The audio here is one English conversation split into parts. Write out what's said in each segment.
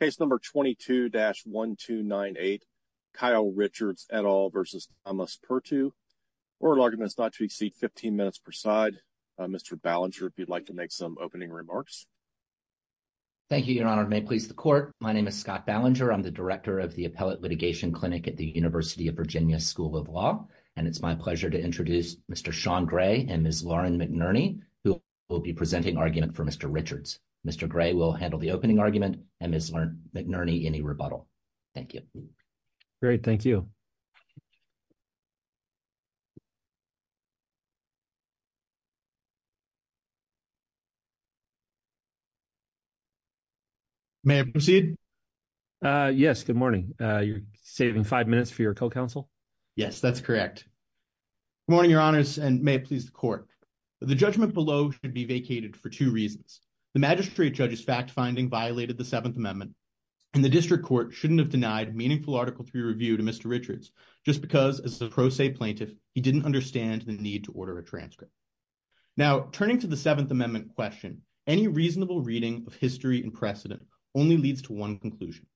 Case number 22-1298, Kyle Richards et al. v. Thomas Perttu. Oral argument is not to be seen. 15 minutes per side. Mr. Ballinger, if you'd like to make some opening remarks. Thank you, your honor. May it please the court. My name is Scott Ballinger. I'm the director of the Appellate Litigation Clinic at the University of Virginia School of Law. And it's my pleasure to introduce Mr. Sean Gray and Ms. Lauren McNerney, who will be presenting argument for Mr. Richards. Mr. Gray will handle the opening argument and Ms. McNerney any rebuttal. Thank you. Great. Thank you. May I proceed? Yes, good morning. You're saving five minutes for your co-counsel? Yes, that's correct. Good morning, your honors, and may it please the court. The judgment below should be vacated for two reasons. The magistrate judge's fact-finding violated the Seventh Amendment and the district court shouldn't have denied meaningful Article III review to Mr. Richards just because, as a pro se plaintiff, he didn't understand the need to order a transcript. Now, turning to the Seventh Amendment question, any reasonable reading of history and precedent only leads to one conclusion.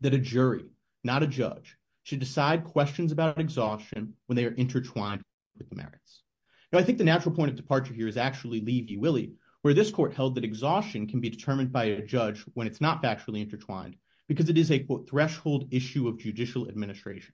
That a jury, not a judge, should decide questions about exhaustion when they are intertwined with the merits. Now, I think the exhaustion can be determined by a judge when it's not factually intertwined because it is a threshold issue of judicial administration.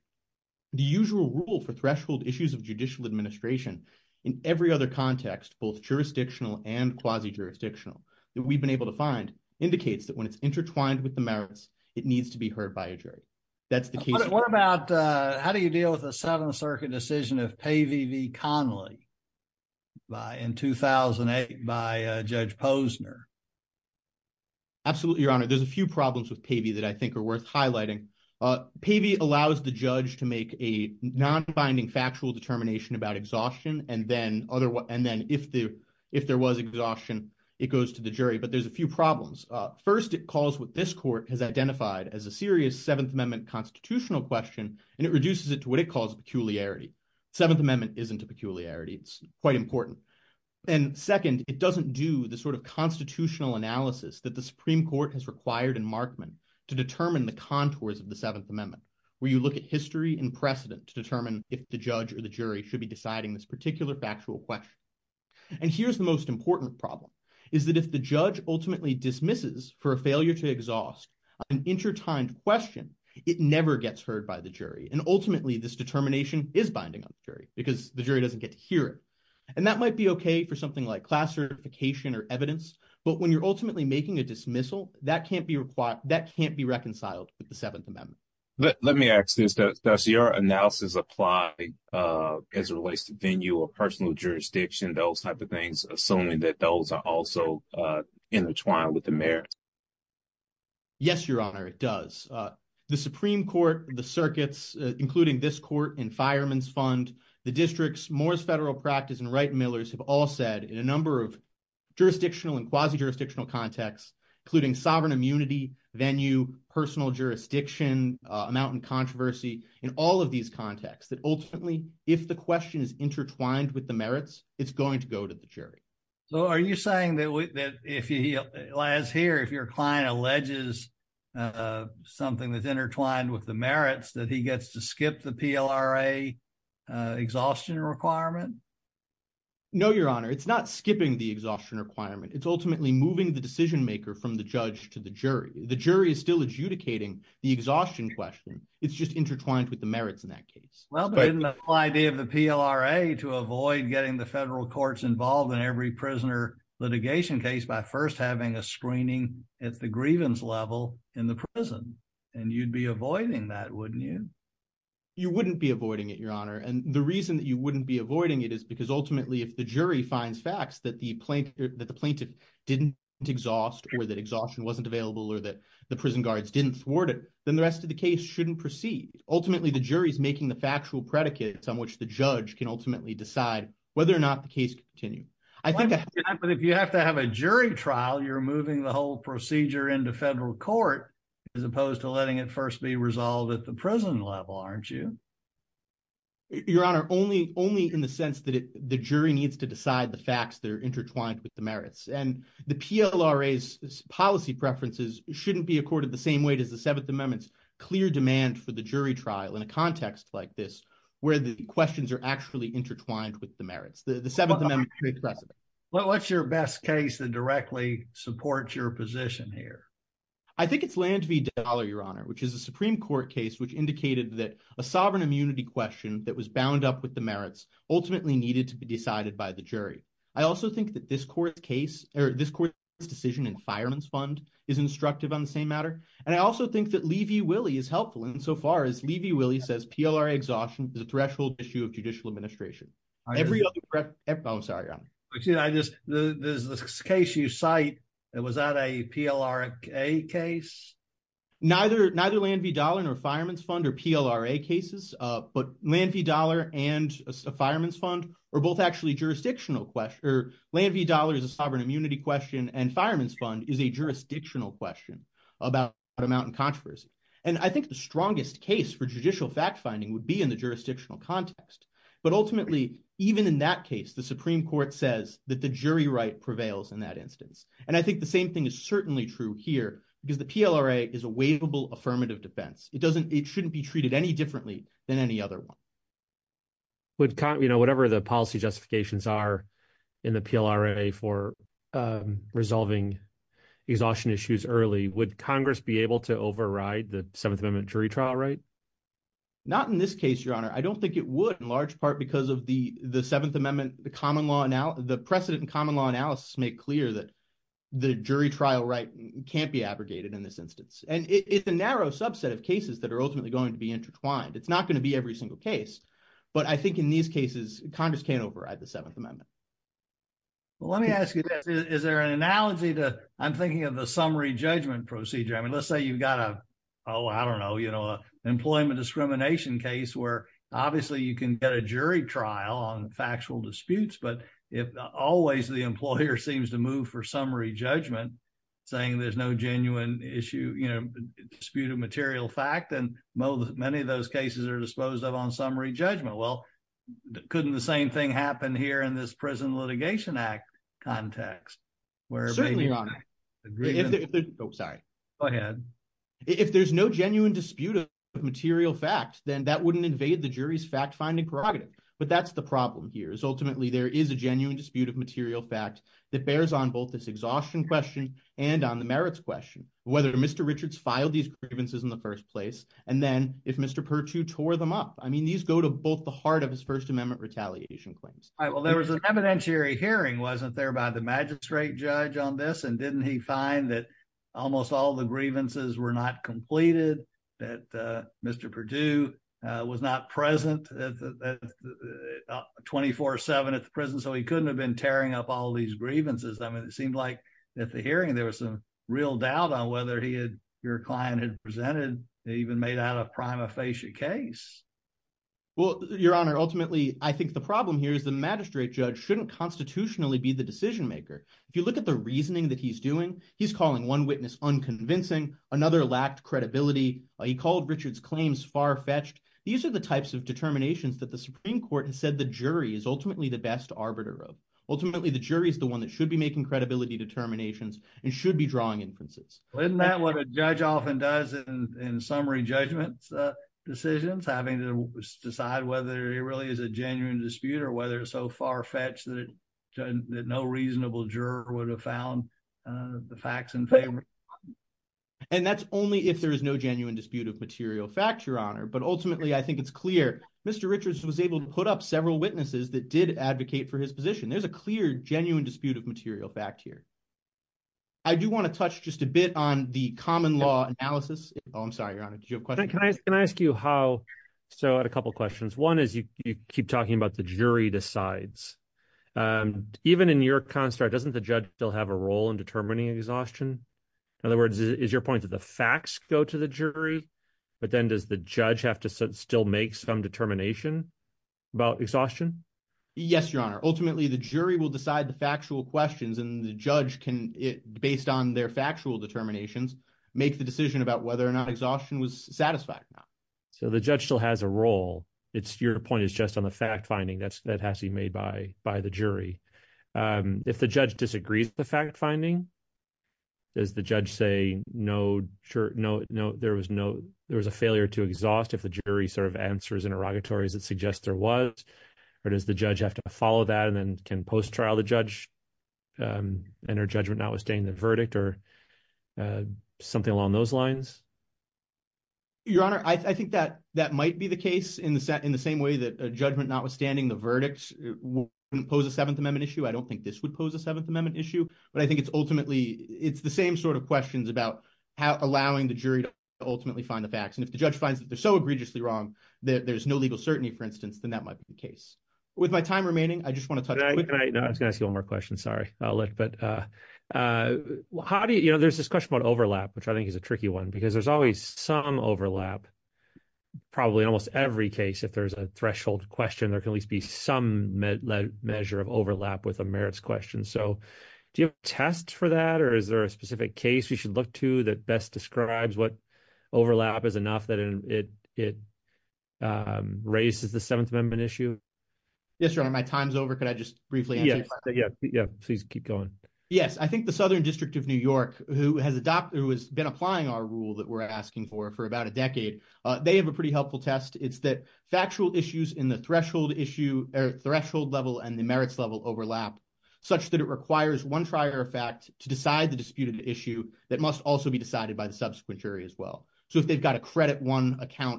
The usual rule for threshold issues of judicial administration in every other context, both jurisdictional and quasi-jurisdictional, that we've been able to find indicates that when it's intertwined with the merits, it needs to be heard by a jury. That's the case. What about how do you deal with the Seventh Circuit decision of Pavey v. Connolly in 2008 by Judge Posner? Absolutely, Your Honor. There's a few problems with Pavey that I think are worth highlighting. Pavey allows the judge to make a non-binding factual determination about exhaustion, and then if there was exhaustion, it goes to the jury. But there's a few problems. First, it calls what this court has identified as a serious Seventh Amendment constitutional question, and it reduces it to what it calls peculiarity. Seventh Amendment isn't a peculiarity. It's quite important. And second, it doesn't do the sort of constitutional analysis that the Supreme Court has required in Markman to determine the contours of the Seventh Amendment, where you look at history and precedent to determine if the judge or the jury should be deciding this particular factual question. And here's the most important problem, is that if the judge ultimately dismisses for a failure to exhaust an intertwined question, it never gets heard by the jury. And ultimately, this determination is binding on the jury because the jury doesn't get to hear it. And that might be okay for something like class certification or evidence, but when you're ultimately making a dismissal, that can't be reconciled with the Seventh Amendment. Let me ask this. Does your analysis apply as it relates to venue or personal jurisdiction, those type of things, assuming that those are also intertwined with the merits? Yes, Your Honor, it does. The Supreme Court, the circuits, including this court and Fireman's Fund, the districts, Moore's Federal Practice, and Wright & Miller's have all said in a number of jurisdictional and quasi-jurisdictional contexts, including sovereign immunity, venue, personal jurisdiction, amount in controversy, in all of these contexts, that ultimately, if the question is intertwined with the merits, it's going to go to the jury. So are you saying that if, as here, if your client alleges something that's intertwined with the merits, that he gets to skip the PLRA exhaustion requirement? No, Your Honor, it's not skipping the exhaustion requirement. It's ultimately moving the decision maker from the judge to the jury. The jury is still adjudicating the exhaustion question. It's just intertwined with the merits in that case. But isn't the whole idea of the PLRA to avoid getting the federal courts involved in every prisoner litigation case by first having a screening at the grievance level in the prison? And you'd be avoiding that, wouldn't you? You wouldn't be avoiding it, Your Honor. And the reason that you wouldn't be avoiding it is because ultimately, if the jury finds facts that the plaintiff didn't exhaust, or that exhaustion wasn't available, or that the prison guards didn't thwart it, then the rest of the case shouldn't proceed. Ultimately, the jury is the factual predicates on which the judge can ultimately decide whether or not the case can continue. But if you have to have a jury trial, you're moving the whole procedure into federal court as opposed to letting it first be resolved at the prison level, aren't you? Your Honor, only in the sense that the jury needs to decide the facts that are intertwined with the merits. And the PLRA's policy preferences shouldn't be accorded the same weight as the where the questions are actually intertwined with the merits. What's your best case that directly supports your position here? I think it's Land v. Dollar, Your Honor, which is a Supreme Court case which indicated that a sovereign immunity question that was bound up with the merits ultimately needed to be decided by the jury. I also think that this court's decision in Fireman's Fund is instructive on the same matter. And I also PLRA exhaustion is a threshold issue of judicial administration. There's this case you cite. Was that a PLRA case? Neither Land v. Dollar nor Fireman's Fund or PLRA cases, but Land v. Dollar and Fireman's Fund are both actually jurisdictional questions. Land v. Dollar is a sovereign immunity question and Fireman's Fund is a jurisdictional question about amount and controversy. And I think the strongest case for judicial fact-finding would be in the jurisdictional context. But ultimately, even in that case, the Supreme Court says that the jury right prevails in that instance. And I think the same thing is certainly true here because the PLRA is a waivable affirmative defense. It shouldn't be treated any differently than any other one. Whatever the policy justifications are in the PLRA for resolving exhaustion issues early, would Congress be able to override the Seventh Amendment jury trial right? Not in this case, Your Honor. I don't think it would in large part because of the Seventh Amendment, the precedent in common law analysis make clear that the jury trial right can't be abrogated in this instance. And it's a narrow subset of cases that are ultimately going to be intertwined. It's not going to be every single case. But I think in these cases, Congress can override the Seventh Amendment. Well, let me ask you this. Is there an analogy to, I'm thinking of the summary judgment procedure. I mean, let's say you've got a, oh, I don't know, you know, employment discrimination case where obviously you can get a jury trial on factual disputes. But if always the employer seems to move for summary judgment, saying there's no genuine issue, you know, disputed material fact, and many of those cases are disposed of on summary judgment. Well, couldn't the same thing happen here in this Prison Litigation Act context? Certainly, Your Honor. If there's no genuine dispute of material fact, then that wouldn't invade the jury's fact-finding prerogative. But that's the problem here is ultimately there is a genuine dispute of material fact that bears on both this exhaustion question and on the merits question, whether Mr. Richards filed these grievances in the first place. And then if Mr. Pertut tore them up, I mean, these go to both the heart of his First Amendment retaliation claims. All right. Well, there was an evidentiary hearing wasn't there by the magistrate judge on this and didn't he find that almost all the grievances were not completed, that Mr. Pertut was not present 24-7 at the prison, so he couldn't have been tearing up all these grievances. I mean, it seemed like at the hearing, there was some real doubt on whether he had, your client had presented, even made out a prima facie case. Well, Your Honor, ultimately, I think the problem here is the magistrate judge shouldn't constitutionally be the decision-maker. If you look at the reasoning that he's doing, he's calling one witness unconvincing, another lacked credibility. He called Richard's claims far-fetched. These are the types of determinations that the Supreme Court has said the jury is ultimately the best arbiter of. Ultimately, the jury is the one that should be making credibility determinations and should be drawing inferences. Isn't that what a judge often does in summary judgment decisions, having to decide whether it really is a genuine dispute or whether it's so far-fetched that no reasonable juror would have found the facts in favor? And that's only if there is no genuine dispute of material fact, Your Honor. But ultimately, I think it's clear Mr. Richards was able to put up several witnesses that did advocate for his position. There's a clear, genuine dispute of material fact here. I do want to touch just a bit on the common law analysis. Oh, I'm sorry, Your Honor, can I ask you how? So I had a couple of questions. One is you keep talking about the jury decides. Even in your construct, doesn't the judge still have a role in determining exhaustion? In other words, is your point that the facts go to the jury, but then does the judge have to still make some determination about exhaustion? Yes, Your Honor. Ultimately, the jury will decide the factual questions and the judge can, based on their factual determinations, make the decision about whether or not exhaustion was satisfied or not. So the judge still has a role. Your point is just on the fact-finding that has to be made by the jury. If the judge disagrees with the fact-finding, does the judge say there was a failure to exhaust if the jury sort of answers interrogatories that suggest there was? Or does the judge have to follow that and then can post-trial the judge and her judgment notwithstanding the verdict or something along those lines? Your Honor, I think that that might be the case in the same way that a judgment notwithstanding the verdicts will impose a Seventh Amendment issue. I don't think this would pose a Seventh Amendment issue, but I think it's ultimately, it's the same sort of questions about how allowing the jury to ultimately find the facts. And if the judge finds that they're so egregiously wrong that there's no legal certainty, for instance, then that might be the case. With my time remaining, I just want to touch quickly. No, I was going to ask you one more question. Sorry. There's this question about overlap, which I think is a tricky one, because there's always some overlap. Probably in almost every case, if there's a threshold question, there can at least be some measure of overlap with a merits question. So do you have a test for that? Or is there a specific case we should look to that best describes what overlap is enough that it it raises the Seventh Amendment issue? Yes, Your Honor, my time's over. Could I just briefly answer your question? Yeah, please keep going. Yes. I think the Southern District of New York, who has been applying our rule that we're asking for for about a decade, they have a pretty helpful test. It's that factual issues in the threshold issue or threshold level and the merits level overlap such that it requires one prior fact to decide the disputed issue that must also be count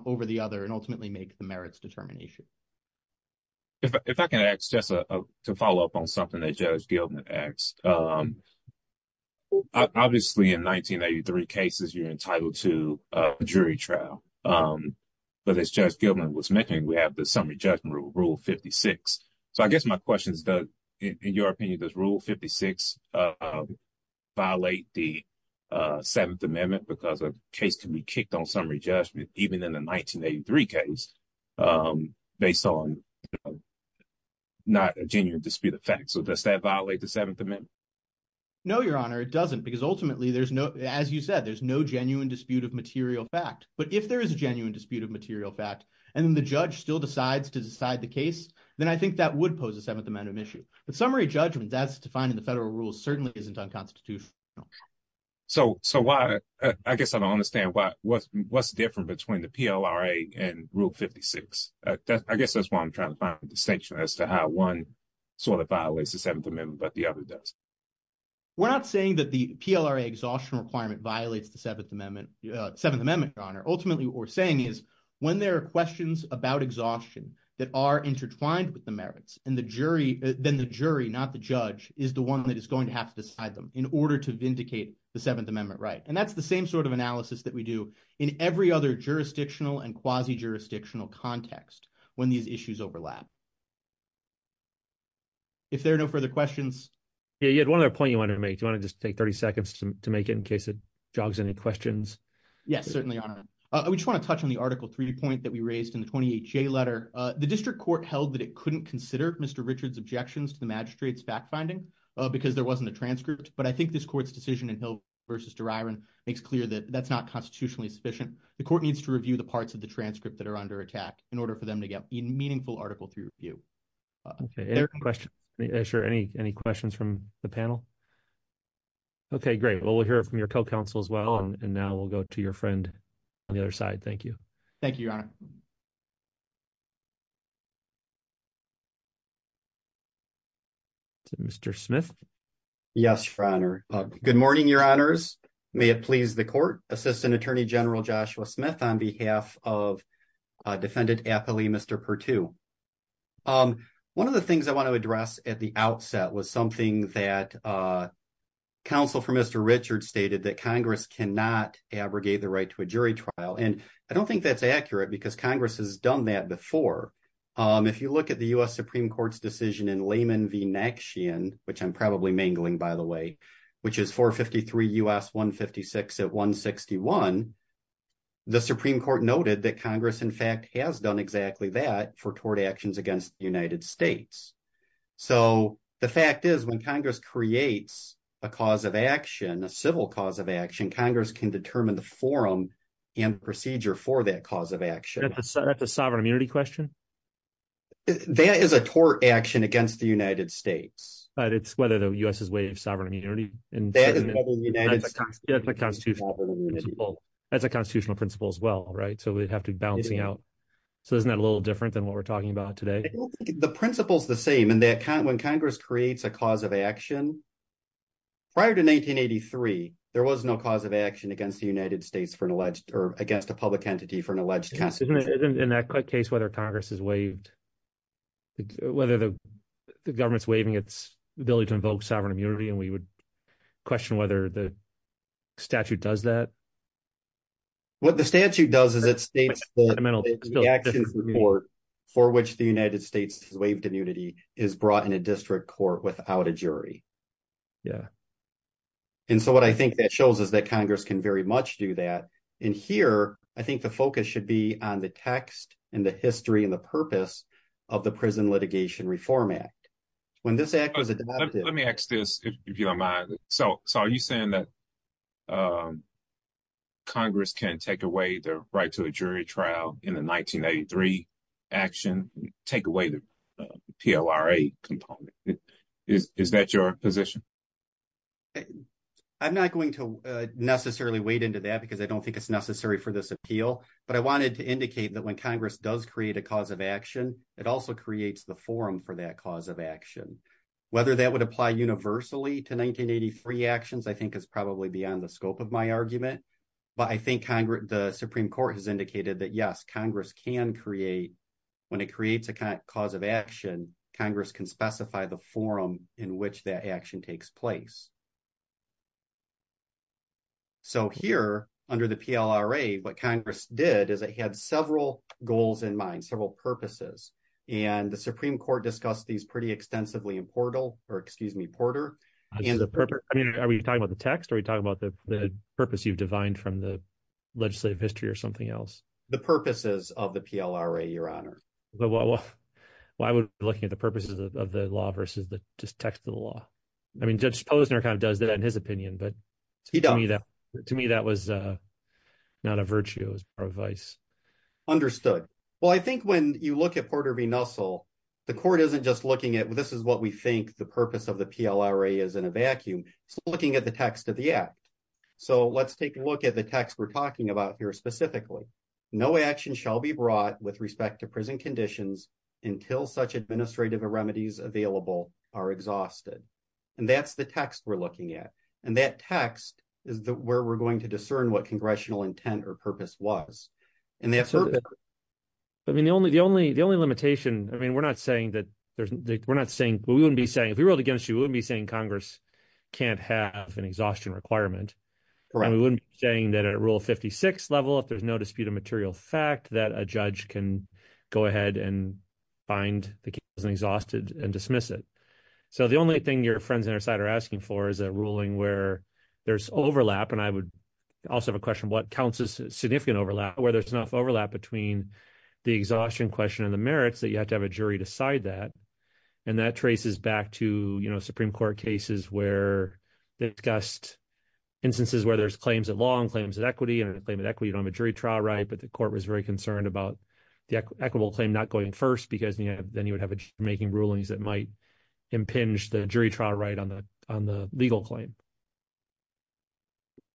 over the other and ultimately make the merits determination. If I can ask just to follow up on something that Judge Gilman asked. Obviously, in 1983 cases, you're entitled to a jury trial. But as Judge Gilman was mentioning, we have the summary judgment rule, Rule 56. So I guess my question is, in your opinion, does Rule 56 violate the Seventh Amendment? No, Your Honor, it doesn't. Because ultimately, as you said, there's no genuine dispute of material fact. But if there is a genuine dispute of material fact, and the judge still decides to decide the case, then I think that would pose a Seventh Amendment issue. But summary judgment that's defined in the federal rules certainly isn't unconstitutional. So I guess I don't understand what's different between the PLRA and Rule 56. I guess that's why I'm trying to find a distinction as to how one sort of violates the Seventh Amendment, but the other doesn't. We're not saying that the PLRA exhaustion requirement violates the Seventh Amendment, Seventh Amendment, Your Honor. Ultimately, what we're saying is when there are questions about exhaustion that are intertwined with the merits, then the jury, not the judge, is the one that is going to have to decide them in order to vindicate the Seventh Amendment right. That's the same sort of analysis that we do in every other jurisdictional and quasi-jurisdictional context when these issues overlap. If there are no further questions. Yeah, you had one other point you wanted to make. Do you want to just take 30 seconds to make it in case it jogs any questions? Yes, certainly, Your Honor. I just want to touch on the Article 3 point that we raised in the 28J letter. The district court held that it couldn't consider Mr. Richard's objections to the magistrate's fact-finding because there wasn't a transcript. But I think this court's decision in Hill v. Deryron makes clear that that's not constitutionally sufficient. The court needs to review the parts of the transcript that are under attack in order for them to get a meaningful Article 3 review. Any questions from the panel? Okay, great. Well, we'll hear from your co-counsel as well. And now we'll go to your friend on the other side. Thank you. Thank you, Your Honor. Is it Mr. Smith? Yes, Your Honor. Good morning, Your Honors. May it please the court. Assistant Attorney General Joshua Smith on behalf of Defendant Appley, Mr. Perttu. One of the things I want to address at the outset was something that counsel for Mr. Richard stated that Congress cannot abrogate the right to a jury trial. And I don't think that's accurate because Congress has done that before. If you look at the U.S. Supreme Court's decision in Lehman v. Naxxion, which I'm probably mangling, by the way, which is 453 U.S. 156 at 161, the Supreme Court noted that Congress, in fact, has done exactly that for tort actions against the United States. So the fact is when Congress creates a cause of action, a civil cause of action, Congress can determine the forum and procedure for that cause of action. That's a sovereign immunity question? That is a tort action against the United States. But it's whether the U.S. is waived sovereign immunity. That's a constitutional principle as well, right? So we'd have to be balancing out. So isn't that a little different than what we're talking about today? The principle is the same in that when Congress creates a cause of action. Prior to 1983, there was no cause of action against the United States for an alleged or against a public entity for an alleged in that case, whether Congress is waived, whether the government's waiving its ability to invoke sovereign immunity. And we would question whether the statute does that. What the statute does is state the court for which the United States has waived immunity is brought in a district court without a jury. Yeah. And so what I think that shows is that Congress can very much do that. And here, I think the focus should be on the text and the history and the purpose of the Prison Litigation Reform Act. When this act was adopted. Let me ask this, if you don't mind. So are you saying that Congress can take away the right to a jury trial in the 1983 action, take away the PLRA component? Is that your position? I'm not going to necessarily wade into that because I don't think it's necessary for this appeal. But I wanted to indicate that when Congress does create a cause of action, it also creates the forum for that cause of action. Whether that would apply universally to 1983 actions, I think is probably beyond the scope of my argument. But I think the Supreme Court has indicated that, yes, Congress can create, when it creates a cause of action, Congress can specify the forum in which that action takes place. So here under the PLRA, what Congress did is it had several goals in mind, several purposes. And Supreme Court discussed these pretty extensively in Porter. Are we talking about the text? Are we talking about the purpose you've defined from the legislative history or something else? The purposes of the PLRA, Your Honor. Well, I would be looking at the purposes of the law versus the text of the law. I mean, Judge Posner kind of does that in his opinion. But to me, that was not a virtue. It was more advice. Understood. Well, I think when you look at Porter v. Nussel, the court isn't just looking at this is what we think the purpose of the PLRA is in a vacuum. It's looking at the text of the act. So let's take a look at the text we're talking about here specifically. No action shall be brought with respect to prison conditions until such administrative remedies available are exhausted. And that's the text we're looking at. And that text is where we're going to discern what congressional intent or purpose was. I mean, the only the only the only limitation. I mean, we're not saying that there's we're not saying we wouldn't be saying if we ruled against you, we wouldn't be saying Congress can't have an exhaustion requirement. We wouldn't be saying that a rule of 56 level, if there's no dispute of material fact, that a judge can go ahead and find the case exhausted and dismiss it. So the only thing your friends are asking for is a ruling where there's overlap. And I would also have a question of what counts as significant overlap, whether it's enough overlap between the exhaustion question and the merits that you have to have a jury decide that. And that traces back to Supreme Court cases where they discussed instances where there's claims of law and claims of equity and a claim of equity on a jury trial. Right. But the court was very concerned about the equitable claim not going first because then you would have making rulings that might impinge the jury trial right on the legal claim.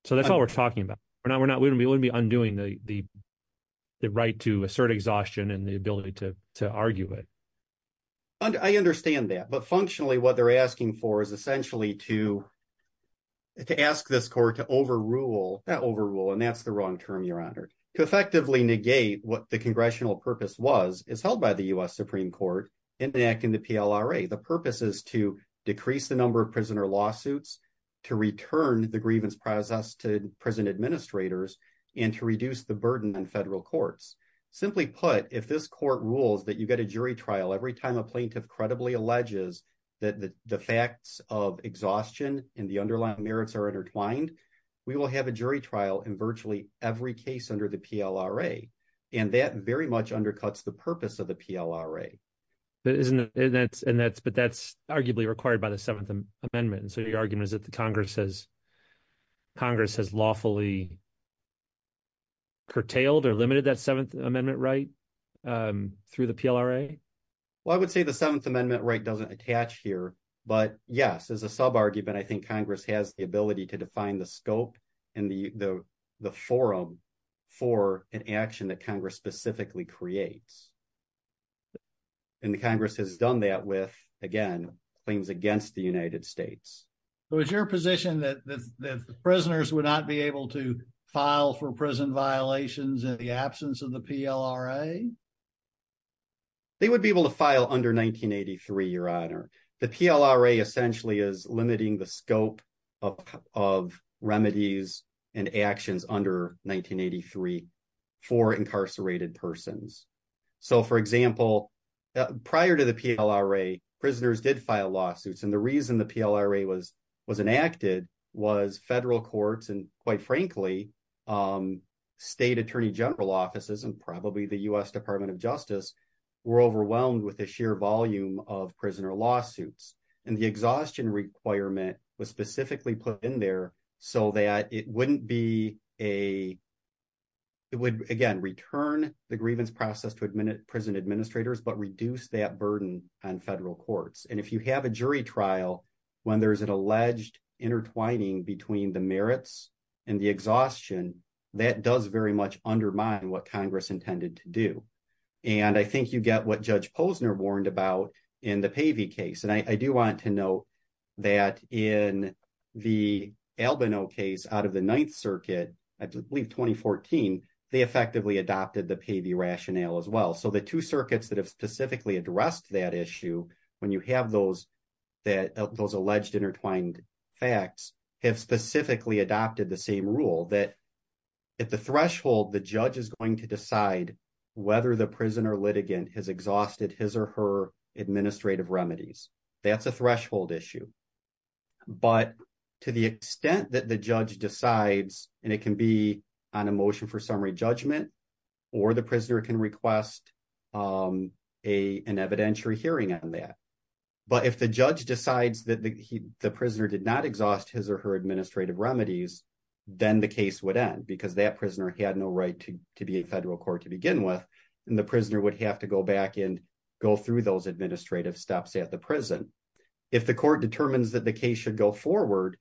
So that's all we're talking about. We're not we're not we wouldn't be undoing the right to assert exhaustion and the ability to argue it. I understand that. But functionally, what they're asking for is essentially to ask this court to overrule that overrule. And that's the wrong term, Your Honor, to effectively negate what the congressional purpose was is held by the U.S. Supreme Court enacting the PLRA. The purpose is to decrease the number of prisoner lawsuits, to return the grievance process to prison administrators and to reduce the burden on federal courts. Simply put, if this court rules that you get a jury trial every time a plaintiff credibly alleges that the facts of exhaustion and the underlying merits are intertwined, we will have a jury trial in virtually every case under the PLRA. And that very much undercuts the purpose of the PLRA. But isn't that and that's but that's arguably required by the Seventh Amendment. And so your argument is that the Congress has Congress has lawfully. Curtailed or limited that Seventh Amendment right through the PLRA. Well, I would say the Seventh Amendment right doesn't attach here. But yes, as a sub argument, I think Congress has the ability to define the scope and the the forum for an action that Congress specifically creates. And the Congress has done that with again, claims against the United States. Is your position that the prisoners would not be able to file for prison violations in the absence of the PLRA? They would be able to file under 1983, Your Honor. The PLRA essentially is limiting the scope of of remedies and actions under 1983 for incarcerated persons. So for example, prior to the PLRA, prisoners did file lawsuits. And the reason the PLRA was was enacted was federal courts and quite frankly, state attorney general offices and probably the US Department of Justice were overwhelmed with the sheer volume of prisoner lawsuits and the exhaustion requirement was specifically put in there so that it wouldn't be a. It would again return the grievance process to admit prison administrators, but reduce that burden on federal courts. And if you have a jury trial when there is an alleged intertwining between the merits and the exhaustion that does very much undermine what Congress intended to do. And I think you get what Judge Posner warned about in the Pavey case. And I do want to note that in the Albino case out of the Ninth Circuit, I believe 2014, they effectively adopted the Pavey rationale as well. So the two circuits that have specifically addressed that issue, when you have those that those alleged intertwined facts have specifically adopted the same rule that at the threshold, the judge is going to decide whether the prisoner litigant has exhausted his or her administrative remedies. That's a threshold issue. But to the extent that the judge decides, and it can be on a motion for summary judgment, or the prisoner can request an evidentiary hearing on that. But if the judge decides that the prisoner did not exhaust his or her administrative remedies, then the case would end because that prisoner had no right to be a federal court to begin with. And the prisoner would have to go back and go through those administrative steps at the prison. If the court determines that the case should go forward,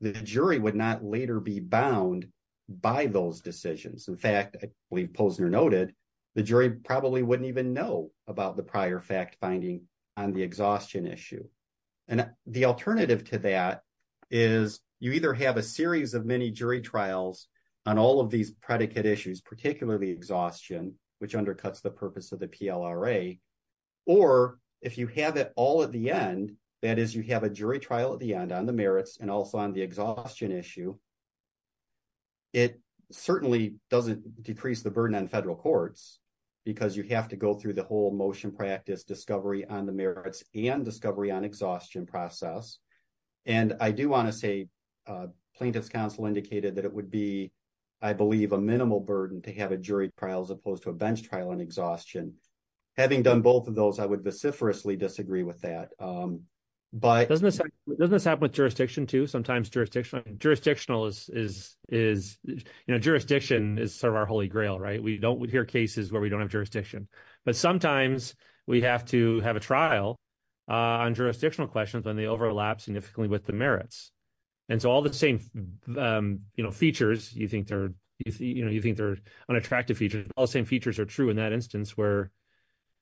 the jury would not later be bound by those decisions. In fact, I believe Posner noted, the jury probably wouldn't even know about the prior fact finding on the exhaustion issue. And the alternative to that is you either have a series of mini jury trials on all of these predicate issues, particularly exhaustion, which undercuts the purpose of the PLRA. Or if you have it all at the end, that is you have a jury trial at the end on the merits and also on the exhaustion issue. It certainly doesn't decrease the burden on federal courts, because you have to go through the whole motion practice discovery on the merits and discovery on exhaustion process. And I do want to say plaintiff's counsel indicated that it would be, I believe, a minimal burden to have a jury trial as opposed to a bench trial on exhaustion. Having done both of those, I would vociferously disagree with that. Doesn't this happen with jurisdiction too? Sometimes jurisdictional is, you know, cases where we don't have jurisdiction, but sometimes we have to have a trial on jurisdictional questions when they overlap significantly with the merits. And so all the same, you know, features, you think they're, you know, you think they're unattractive features. All the same features are true in that instance where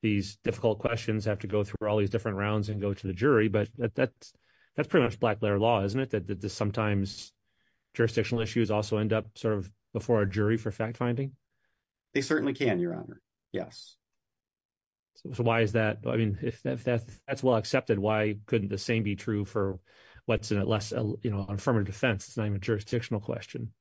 these difficult questions have to go through all these different rounds and go to the jury. But that's that's pretty much black letter law, isn't it? That sometimes jurisdictional issues also end up sort of before a jury for fact finding. They certainly can, Your Honor. Yes. So why is that? I mean, if that's well accepted, why couldn't the same be true for what's less, you know, affirmative defense? It's not even jurisdictional question.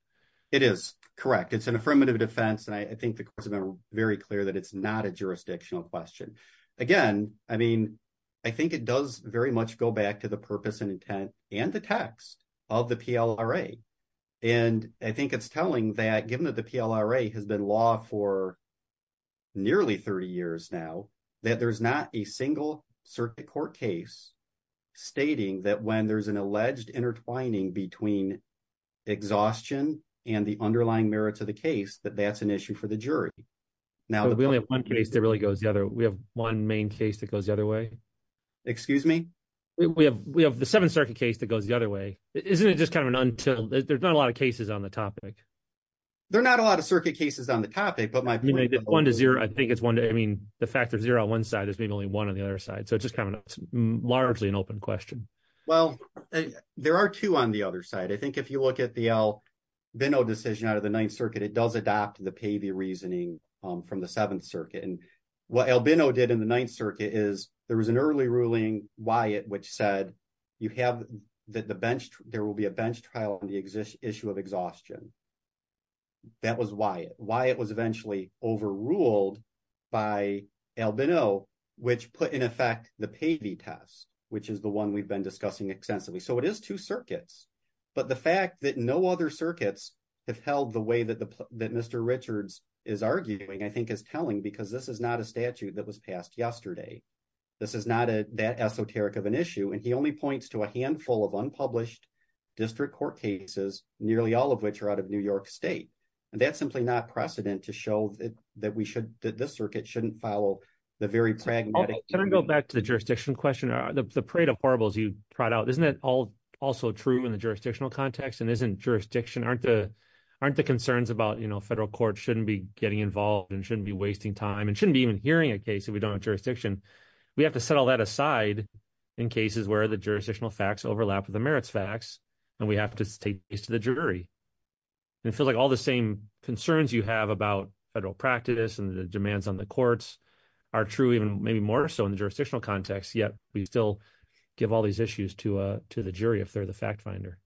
It is correct. It's an affirmative defense. And I think the courts have been very clear that it's not a jurisdictional question. Again, I mean, I think it does very much go back to the purpose and intent and the text of the PLRA. And I think it's telling that given that the PLRA has been law for nearly 30 years now, that there's not a single circuit court case stating that when there's an alleged intertwining between exhaustion and the underlying merits of the case, that that's an issue for the jury. Now, we only have one case that really goes the other. We have one main case that goes the other way. Excuse me? We have we have the Seventh Circuit case that goes the other way. Isn't it just kind of an until there's not a lot of cases on the topic? There are not a lot of circuit cases on the topic, but I mean, one to zero, I think it's one. I mean, the fact that zero on one side is being only one on the other side. So it's just kind of largely an open question. Well, there are two on the other side. I think if you look at the Albino decision out of the Ninth Circuit, it does adopt the Pavey reasoning from the Seventh Circuit. And what Albino did in the Ninth Circuit is there was an early ruling Wyatt, which said you have that the bench there will be a bench trial on the issue of exhaustion. That was Wyatt. Wyatt was eventually overruled by Albino, which put in effect the Pavey test, which is the one we've been discussing extensively. So it is two circuits. But the fact that no other circuits have held the way that Mr. Richards is arguing, I think, is telling because this is not a statute that was passed yesterday. This is not that esoteric of an issue. And he only points to a handful of unpublished district court cases, nearly all of which are out of New York state. And that's simply not precedent to show that this circuit shouldn't follow the very pragmatic. Can I go back to the jurisdiction question? The parade of horribles you brought out, isn't that also true in the jurisdictional context? And isn't jurisdiction, aren't the concerns about federal courts shouldn't be getting involved and shouldn't be wasting time and shouldn't be even hearing a case if we don't have jurisdiction. We have to set all that aside in cases where the jurisdictional facts overlap with the merits facts and we have to take this to the jury. And it feels like all the same concerns you have about federal practice and the demands on the courts are true even maybe more so in the jurisdictional context, yet we still give all these issues to the jury if they're the fact finder.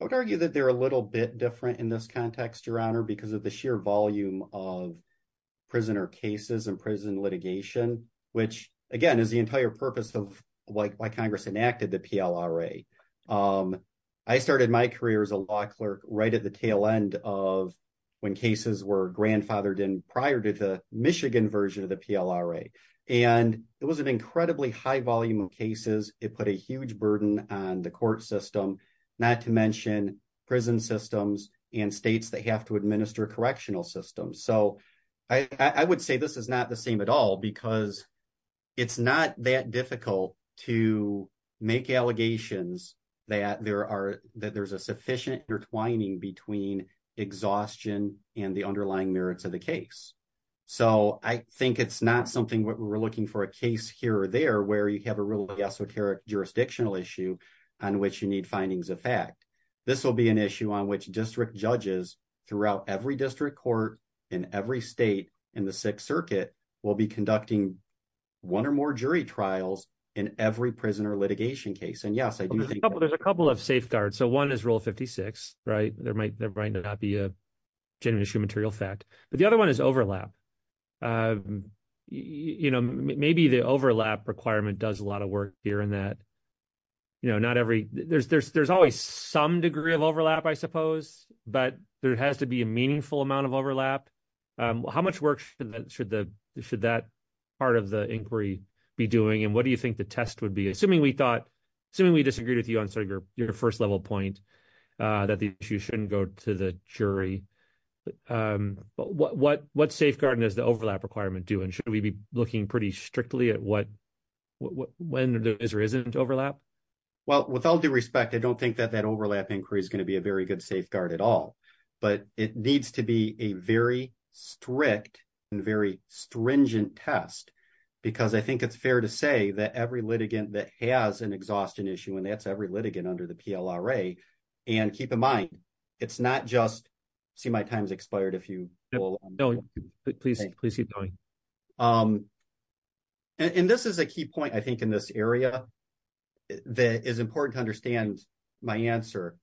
I would argue that they're a little bit different in this context, Your Honor, because of the sheer volume of prisoner cases and prison litigation, which again, is the entire purpose of why Congress enacted the PLRA. I started my career as a law clerk right at the tail end of when cases were grandfathered in prior to the Michigan version of the PLRA. And it was an incredibly high volume of cases. It put a huge burden on the court system not to mention prison systems and states that have to administer correctional systems. So I would say this is not the same at all because it's not that difficult to make allegations that there's a sufficient intertwining between exhaustion and the underlying merits of the case. So I think it's not something where we're looking for a case here or there where you have a real jurisdictional issue on which you need findings of fact. This will be an issue on which district judges throughout every district court in every state in the Sixth Circuit will be conducting one or more jury trials in every prisoner litigation case. And yes, I do think- There's a couple of safeguards. So one is Rule 56, right? There might not be a genuine issue of material fact. But the other one is overlap. And maybe the overlap requirement does a lot of work here in that not every- There's always some degree of overlap, I suppose, but there has to be a meaningful amount of overlap. How much work should that part of the inquiry be doing? And what do you think the test would be? Assuming we disagreed with you on your first level point that the issue shouldn't go to the jury, what safeguarding does the overlap requirement do? And should we be looking pretty strictly at when there is or isn't overlap? Well, with all due respect, I don't think that that overlap inquiry is going to be a very good safeguard at all. But it needs to be a very strict and very stringent test because I think it's fair to say that every litigant that has an exhaustion issue, and that's every litigant under the PLRA, and keep in mind, it's not just- See, my time's expired. If you- No, please keep going. And this is a key point, I think, in this area that is important to understand my answer.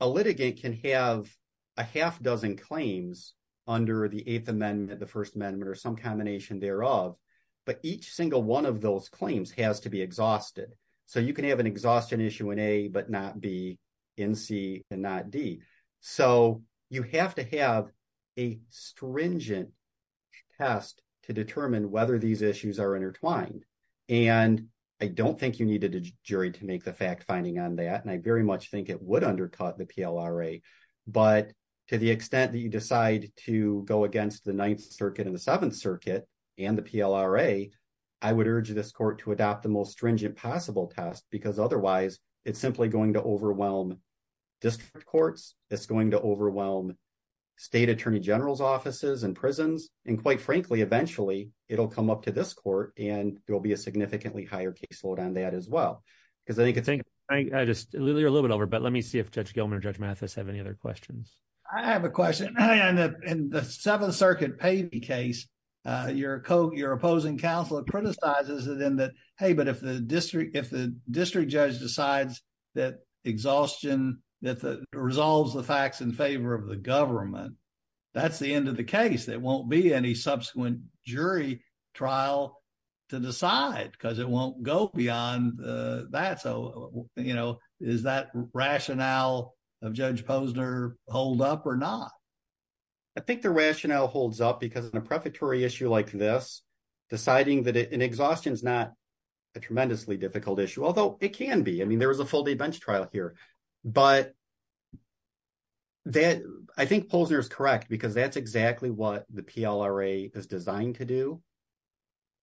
A litigant can have a half dozen claims under the Eighth Amendment, the First Amendment, or some combination thereof, but each single one of those claims has to be exhausted. So, you can have an exhaustion issue in A, but not B, in C, and not D. So, you have to have a stringent test to determine whether these issues are intertwined. And I don't think you needed a jury to make the fact-finding on that, and I very much think it would undercut the PLRA. But to the extent that you decide to go against the Ninth Circuit and the Seventh Circuit and the PLRA, I would urge this court to adopt the most stringent possible test because otherwise, it's simply going to overwhelm district courts, it's going to overwhelm state attorney general's offices and prisons, and quite frankly, eventually, it'll come up to this court, and there'll be a significantly higher caseload on that as well. Because I think it's- I just- you're a little bit over, but let me see if Judge Gilman or Judge Mathis have any other questions. I have a question. In the Seventh Circuit Pavey case, your opposing counsel criticizes it in that, hey, but if the district judge decides that exhaustion resolves the facts in favor of the government, that's the end of the case. There won't be any subsequent jury trial to decide because it won't go beyond that. So, you know, is that rationale of Judge Posner hold up or not? I think the rationale holds up because in a prefatory issue like this, deciding that an exhaustion is not a tremendously difficult issue, although it can be. I mean, there was a full day bench trial here, but that- I think Posner is correct because that's exactly what the PLRA is designed to do,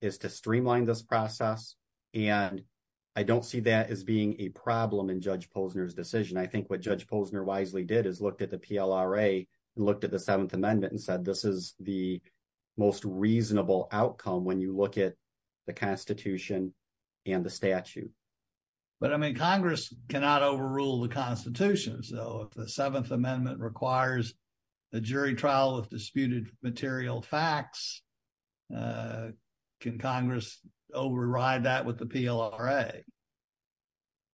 is to streamline this process. And I don't see that as being a problem in Judge Posner's decision. I think what Judge Posner wisely did is looked at the PLRA and looked at the Seventh Amendment and said, this is the most reasonable outcome when you look at the Constitution and the statute. But, I mean, Congress cannot overrule the Constitution. So, if the Seventh Amendment requires a jury trial of disputed material facts, can Congress override that with the PLRA?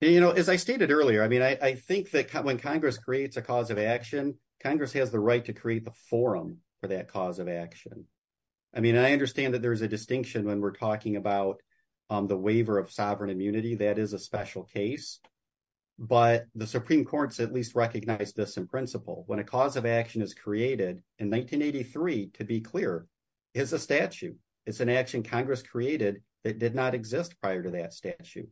You know, as I stated earlier, I mean, I think that when Congress creates a cause of action, Congress has the right to create the forum for that cause of action. I mean, I understand that there's a distinction when we're talking about the waiver of sovereign immunity, that is a special case, but the Supreme Court's at least recognized this in principle. When a cause of action is created, in 1983, to be clear, it's a statute. It's an action Congress created that did not exist prior to that statute.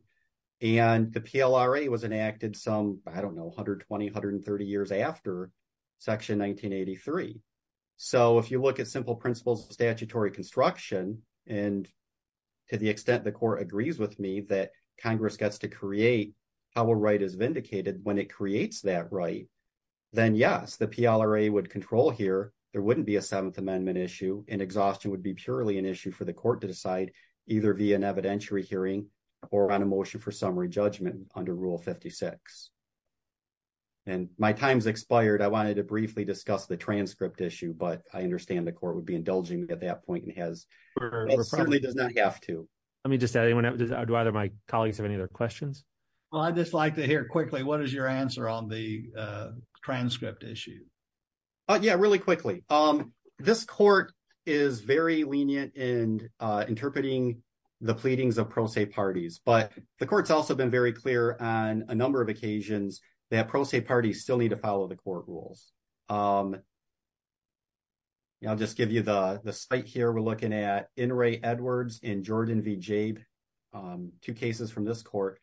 And the PLRA was enacted some, I don't know, 120, 130 years after Section 1983. So, if you look at simple principles of statutory construction, and to the extent the Supreme Court agrees with me that Congress gets to create how a right is vindicated when it creates that right, then yes, the PLRA would control here. There wouldn't be a Seventh Amendment issue, and exhaustion would be purely an issue for the court to decide, either via an evidentiary hearing or on a motion for summary judgment under Rule 56. And my time's expired. I wanted to briefly discuss the transcript issue, but I understand the court would be indulging me at that point, and certainly does not have to. Let me just add, do either of my colleagues have any other questions? Well, I'd just like to hear quickly, what is your answer on the transcript issue? Yeah, really quickly. This court is very lenient in interpreting the pleadings of pro se parties, but the court's also been very clear on a number of occasions that pro se parties still need to follow the court rules. I'll just give you the site here. We're looking at N. Ray Edwards and Jordan V. Jabe, two cases from this court.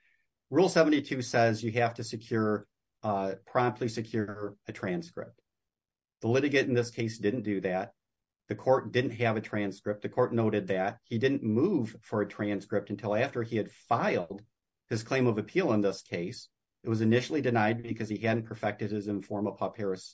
Rule 72 says you have to secure, promptly secure a transcript. The litigant in this case didn't do that. The court didn't have a transcript. The court noted that he didn't move for a transcript until after he had filed his claim of appeal in this case. It was initially denied because he hadn't perfected his informa pauperis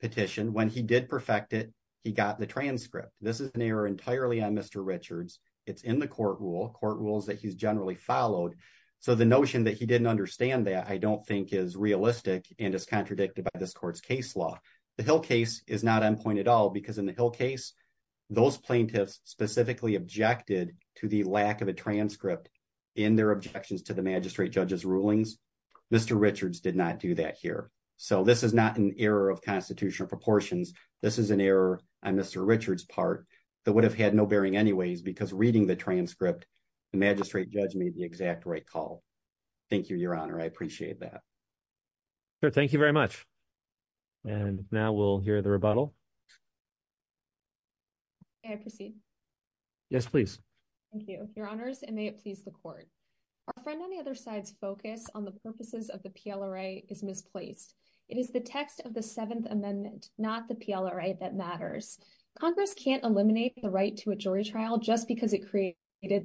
petition. When he did perfect it, he got the transcript. This is an error entirely on Mr. Richards. It's in the court rule, court rules that he's generally followed. So the notion that he didn't understand that I don't think is realistic and is contradicted by this court's case law. The Hill case is not on point at all because in the Hill case, those plaintiffs specifically objected to the lack of a transcript in their objections to the magistrate judge's rulings. Mr. Richards did not do that here. So this is not an error of proportions. This is an error on Mr. Richards' part that would have had no bearing anyways because reading the transcript, the magistrate judge made the exact right call. Thank you, Your Honor. I appreciate that. Sure. Thank you very much. And now we'll hear the rebuttal. May I proceed? Yes, please. Thank you, Your Honors, and may it please the court. Our friend on the other side's focus on the purposes of the PLRA is misplaced. It is the text of the Seventh Amendment, not the PLRA, that matters. Congress can't eliminate the right to a jury trial just because it created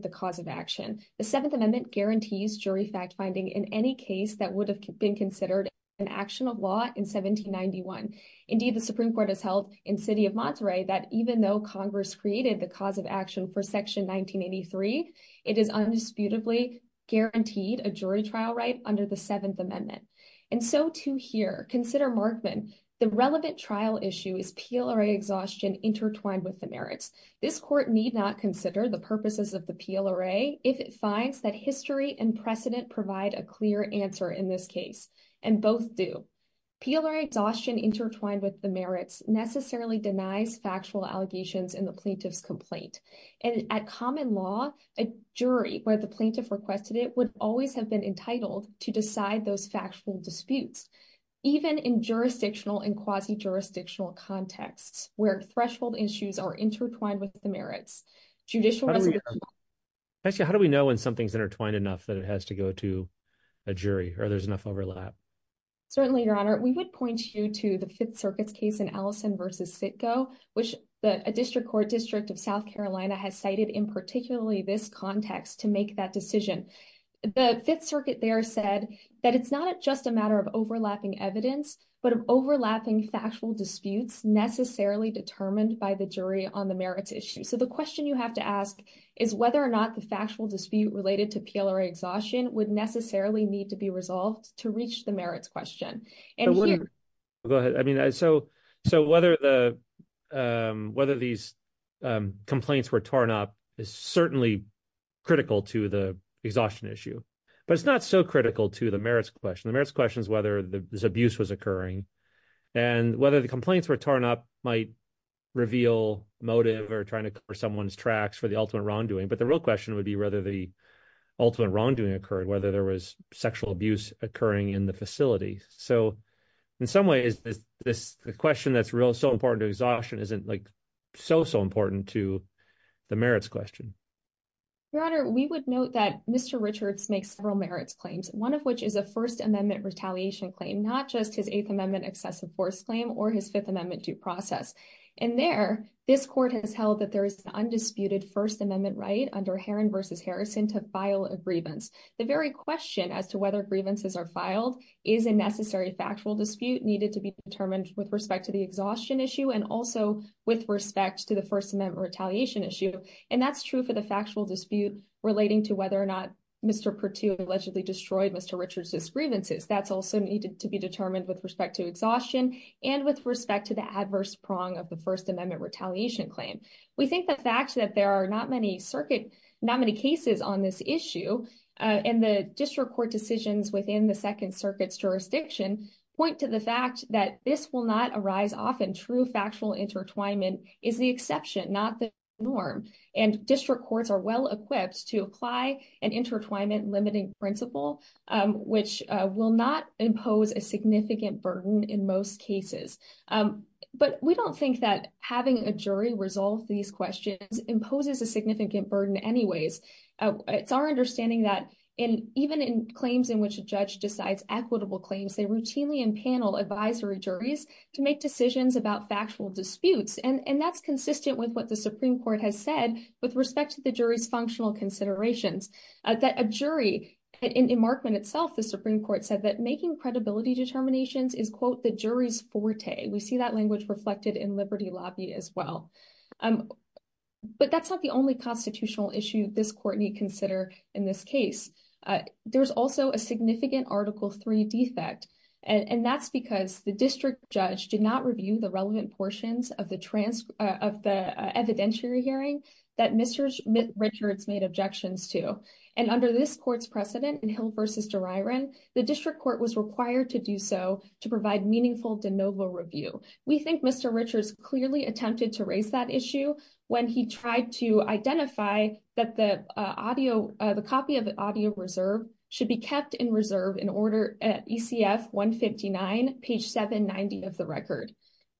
the cause of action. The Seventh Amendment guarantees jury fact-finding in any case that would have been considered an action of law in 1791. Indeed, the Supreme Court has held in City of Monterey that even though Congress created the cause of action for Section 1983, it is undisputably guaranteed a jury trial right under the Seventh Amendment. And so too here. Consider Markman. The relevant trial issue is PLRA exhaustion intertwined with the merits. This court need not consider the purposes of the PLRA if it finds that history and precedent provide a clear answer in this case, and both do. PLRA exhaustion intertwined with the merits necessarily denies factual allegations in the plaintiff's complaint. And at common law, a jury where the plaintiff requested it would always have been entitled to decide those factual disputes, even in jurisdictional and quasi-jurisdictional contexts where threshold issues are intertwined with the merits. Judicial- Actually, how do we know when something's intertwined enough that it has to go to a jury, or there's enough overlap? Certainly, Your Honor. We would point you to the Fifth Circuit's case in Allison v. Sitko, which a district court district of South Carolina has in particularly this context to make that decision. The Fifth Circuit there said that it's not just a matter of overlapping evidence, but of overlapping factual disputes necessarily determined by the jury on the merits issue. So the question you have to ask is whether or not the factual dispute related to PLRA exhaustion would necessarily need to be resolved to reach the merits question. And here- Go ahead. I mean, so whether these complaints were torn is certainly critical to the exhaustion issue, but it's not so critical to the merits question. The merits question is whether this abuse was occurring and whether the complaints were torn up might reveal motive or trying to cover someone's tracks for the ultimate wrongdoing. But the real question would be whether the ultimate wrongdoing occurred, whether there was sexual abuse occurring in the facility. So in some ways, the question that's so important to exhaustion isn't so, important to the merits question. Your Honor, we would note that Mr. Richards makes several merits claims, one of which is a First Amendment retaliation claim, not just his Eighth Amendment excessive force claim or his Fifth Amendment due process. And there, this court has held that there is an undisputed First Amendment right under Herron v. Harrison to file a grievance. The very question as to whether grievances are filed is a necessary factual dispute needed to be determined with respect to the exhaustion issue and also with respect to the First Amendment retaliation issue. And that's true for the factual dispute relating to whether or not Mr. Pertut allegedly destroyed Mr. Richards' grievances. That's also needed to be determined with respect to exhaustion and with respect to the adverse prong of the First Amendment retaliation claim. We think the fact that there are not many circuit, not many cases on this issue and the district court decisions within the Second Circuit's jurisdiction point to the fact that this will not arise often. True factual intertwinement is the exception, not the norm. And district courts are well equipped to apply an intertwinement limiting principle, which will not impose a significant burden in most cases. But we don't think that having a jury resolve these questions imposes a significant burden anyways. It's our understanding that even in claims in which a judge decides equitable claims, they routinely empanel advisory juries to make decisions about factual disputes. And that's consistent with what the Supreme Court has said with respect to the jury's functional considerations. That a jury, in emarkment itself, the Supreme Court said that making credibility determinations is, quote, the jury's forte. We see that language reflected in Liberty Lobby as well. But that's not the only constitutional issue this court need consider in this case. There's also a significant Article III defect. And that's because the district judge did not review the relevant portions of the evidentiary hearing that Mr. Richards made objections to. And under this court's precedent in Hill v. DeRiron, the district court was required to do so to provide meaningful de novo review. We think Mr. Richards clearly attempted to raise that issue when he tried to identify that the copy of the audio reserve should be kept in reserve in order at ECF 159, page 790 of the record.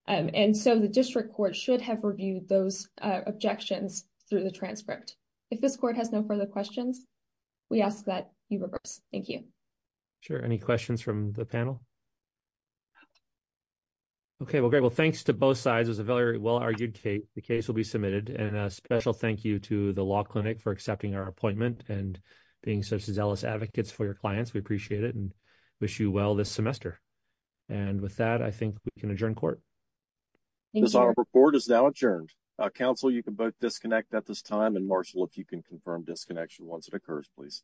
And so the district court should have reviewed those objections through the transcript. If this court has no further questions, we ask that you reverse. Thank you. Sure. Any questions from the panel? Okay. Well, great. Well, thanks to both sides. It was a very well-argued case. The case will be submitted. And a special thank you to the law clinic for accepting our appointment and being such zealous advocates for your clients. We appreciate it and wish you well this semester. And with that, I think we can adjourn court. This report is now adjourned. Counsel, you can both disconnect at this time. And, Marshall, if you can confirm disconnection once it occurs, please.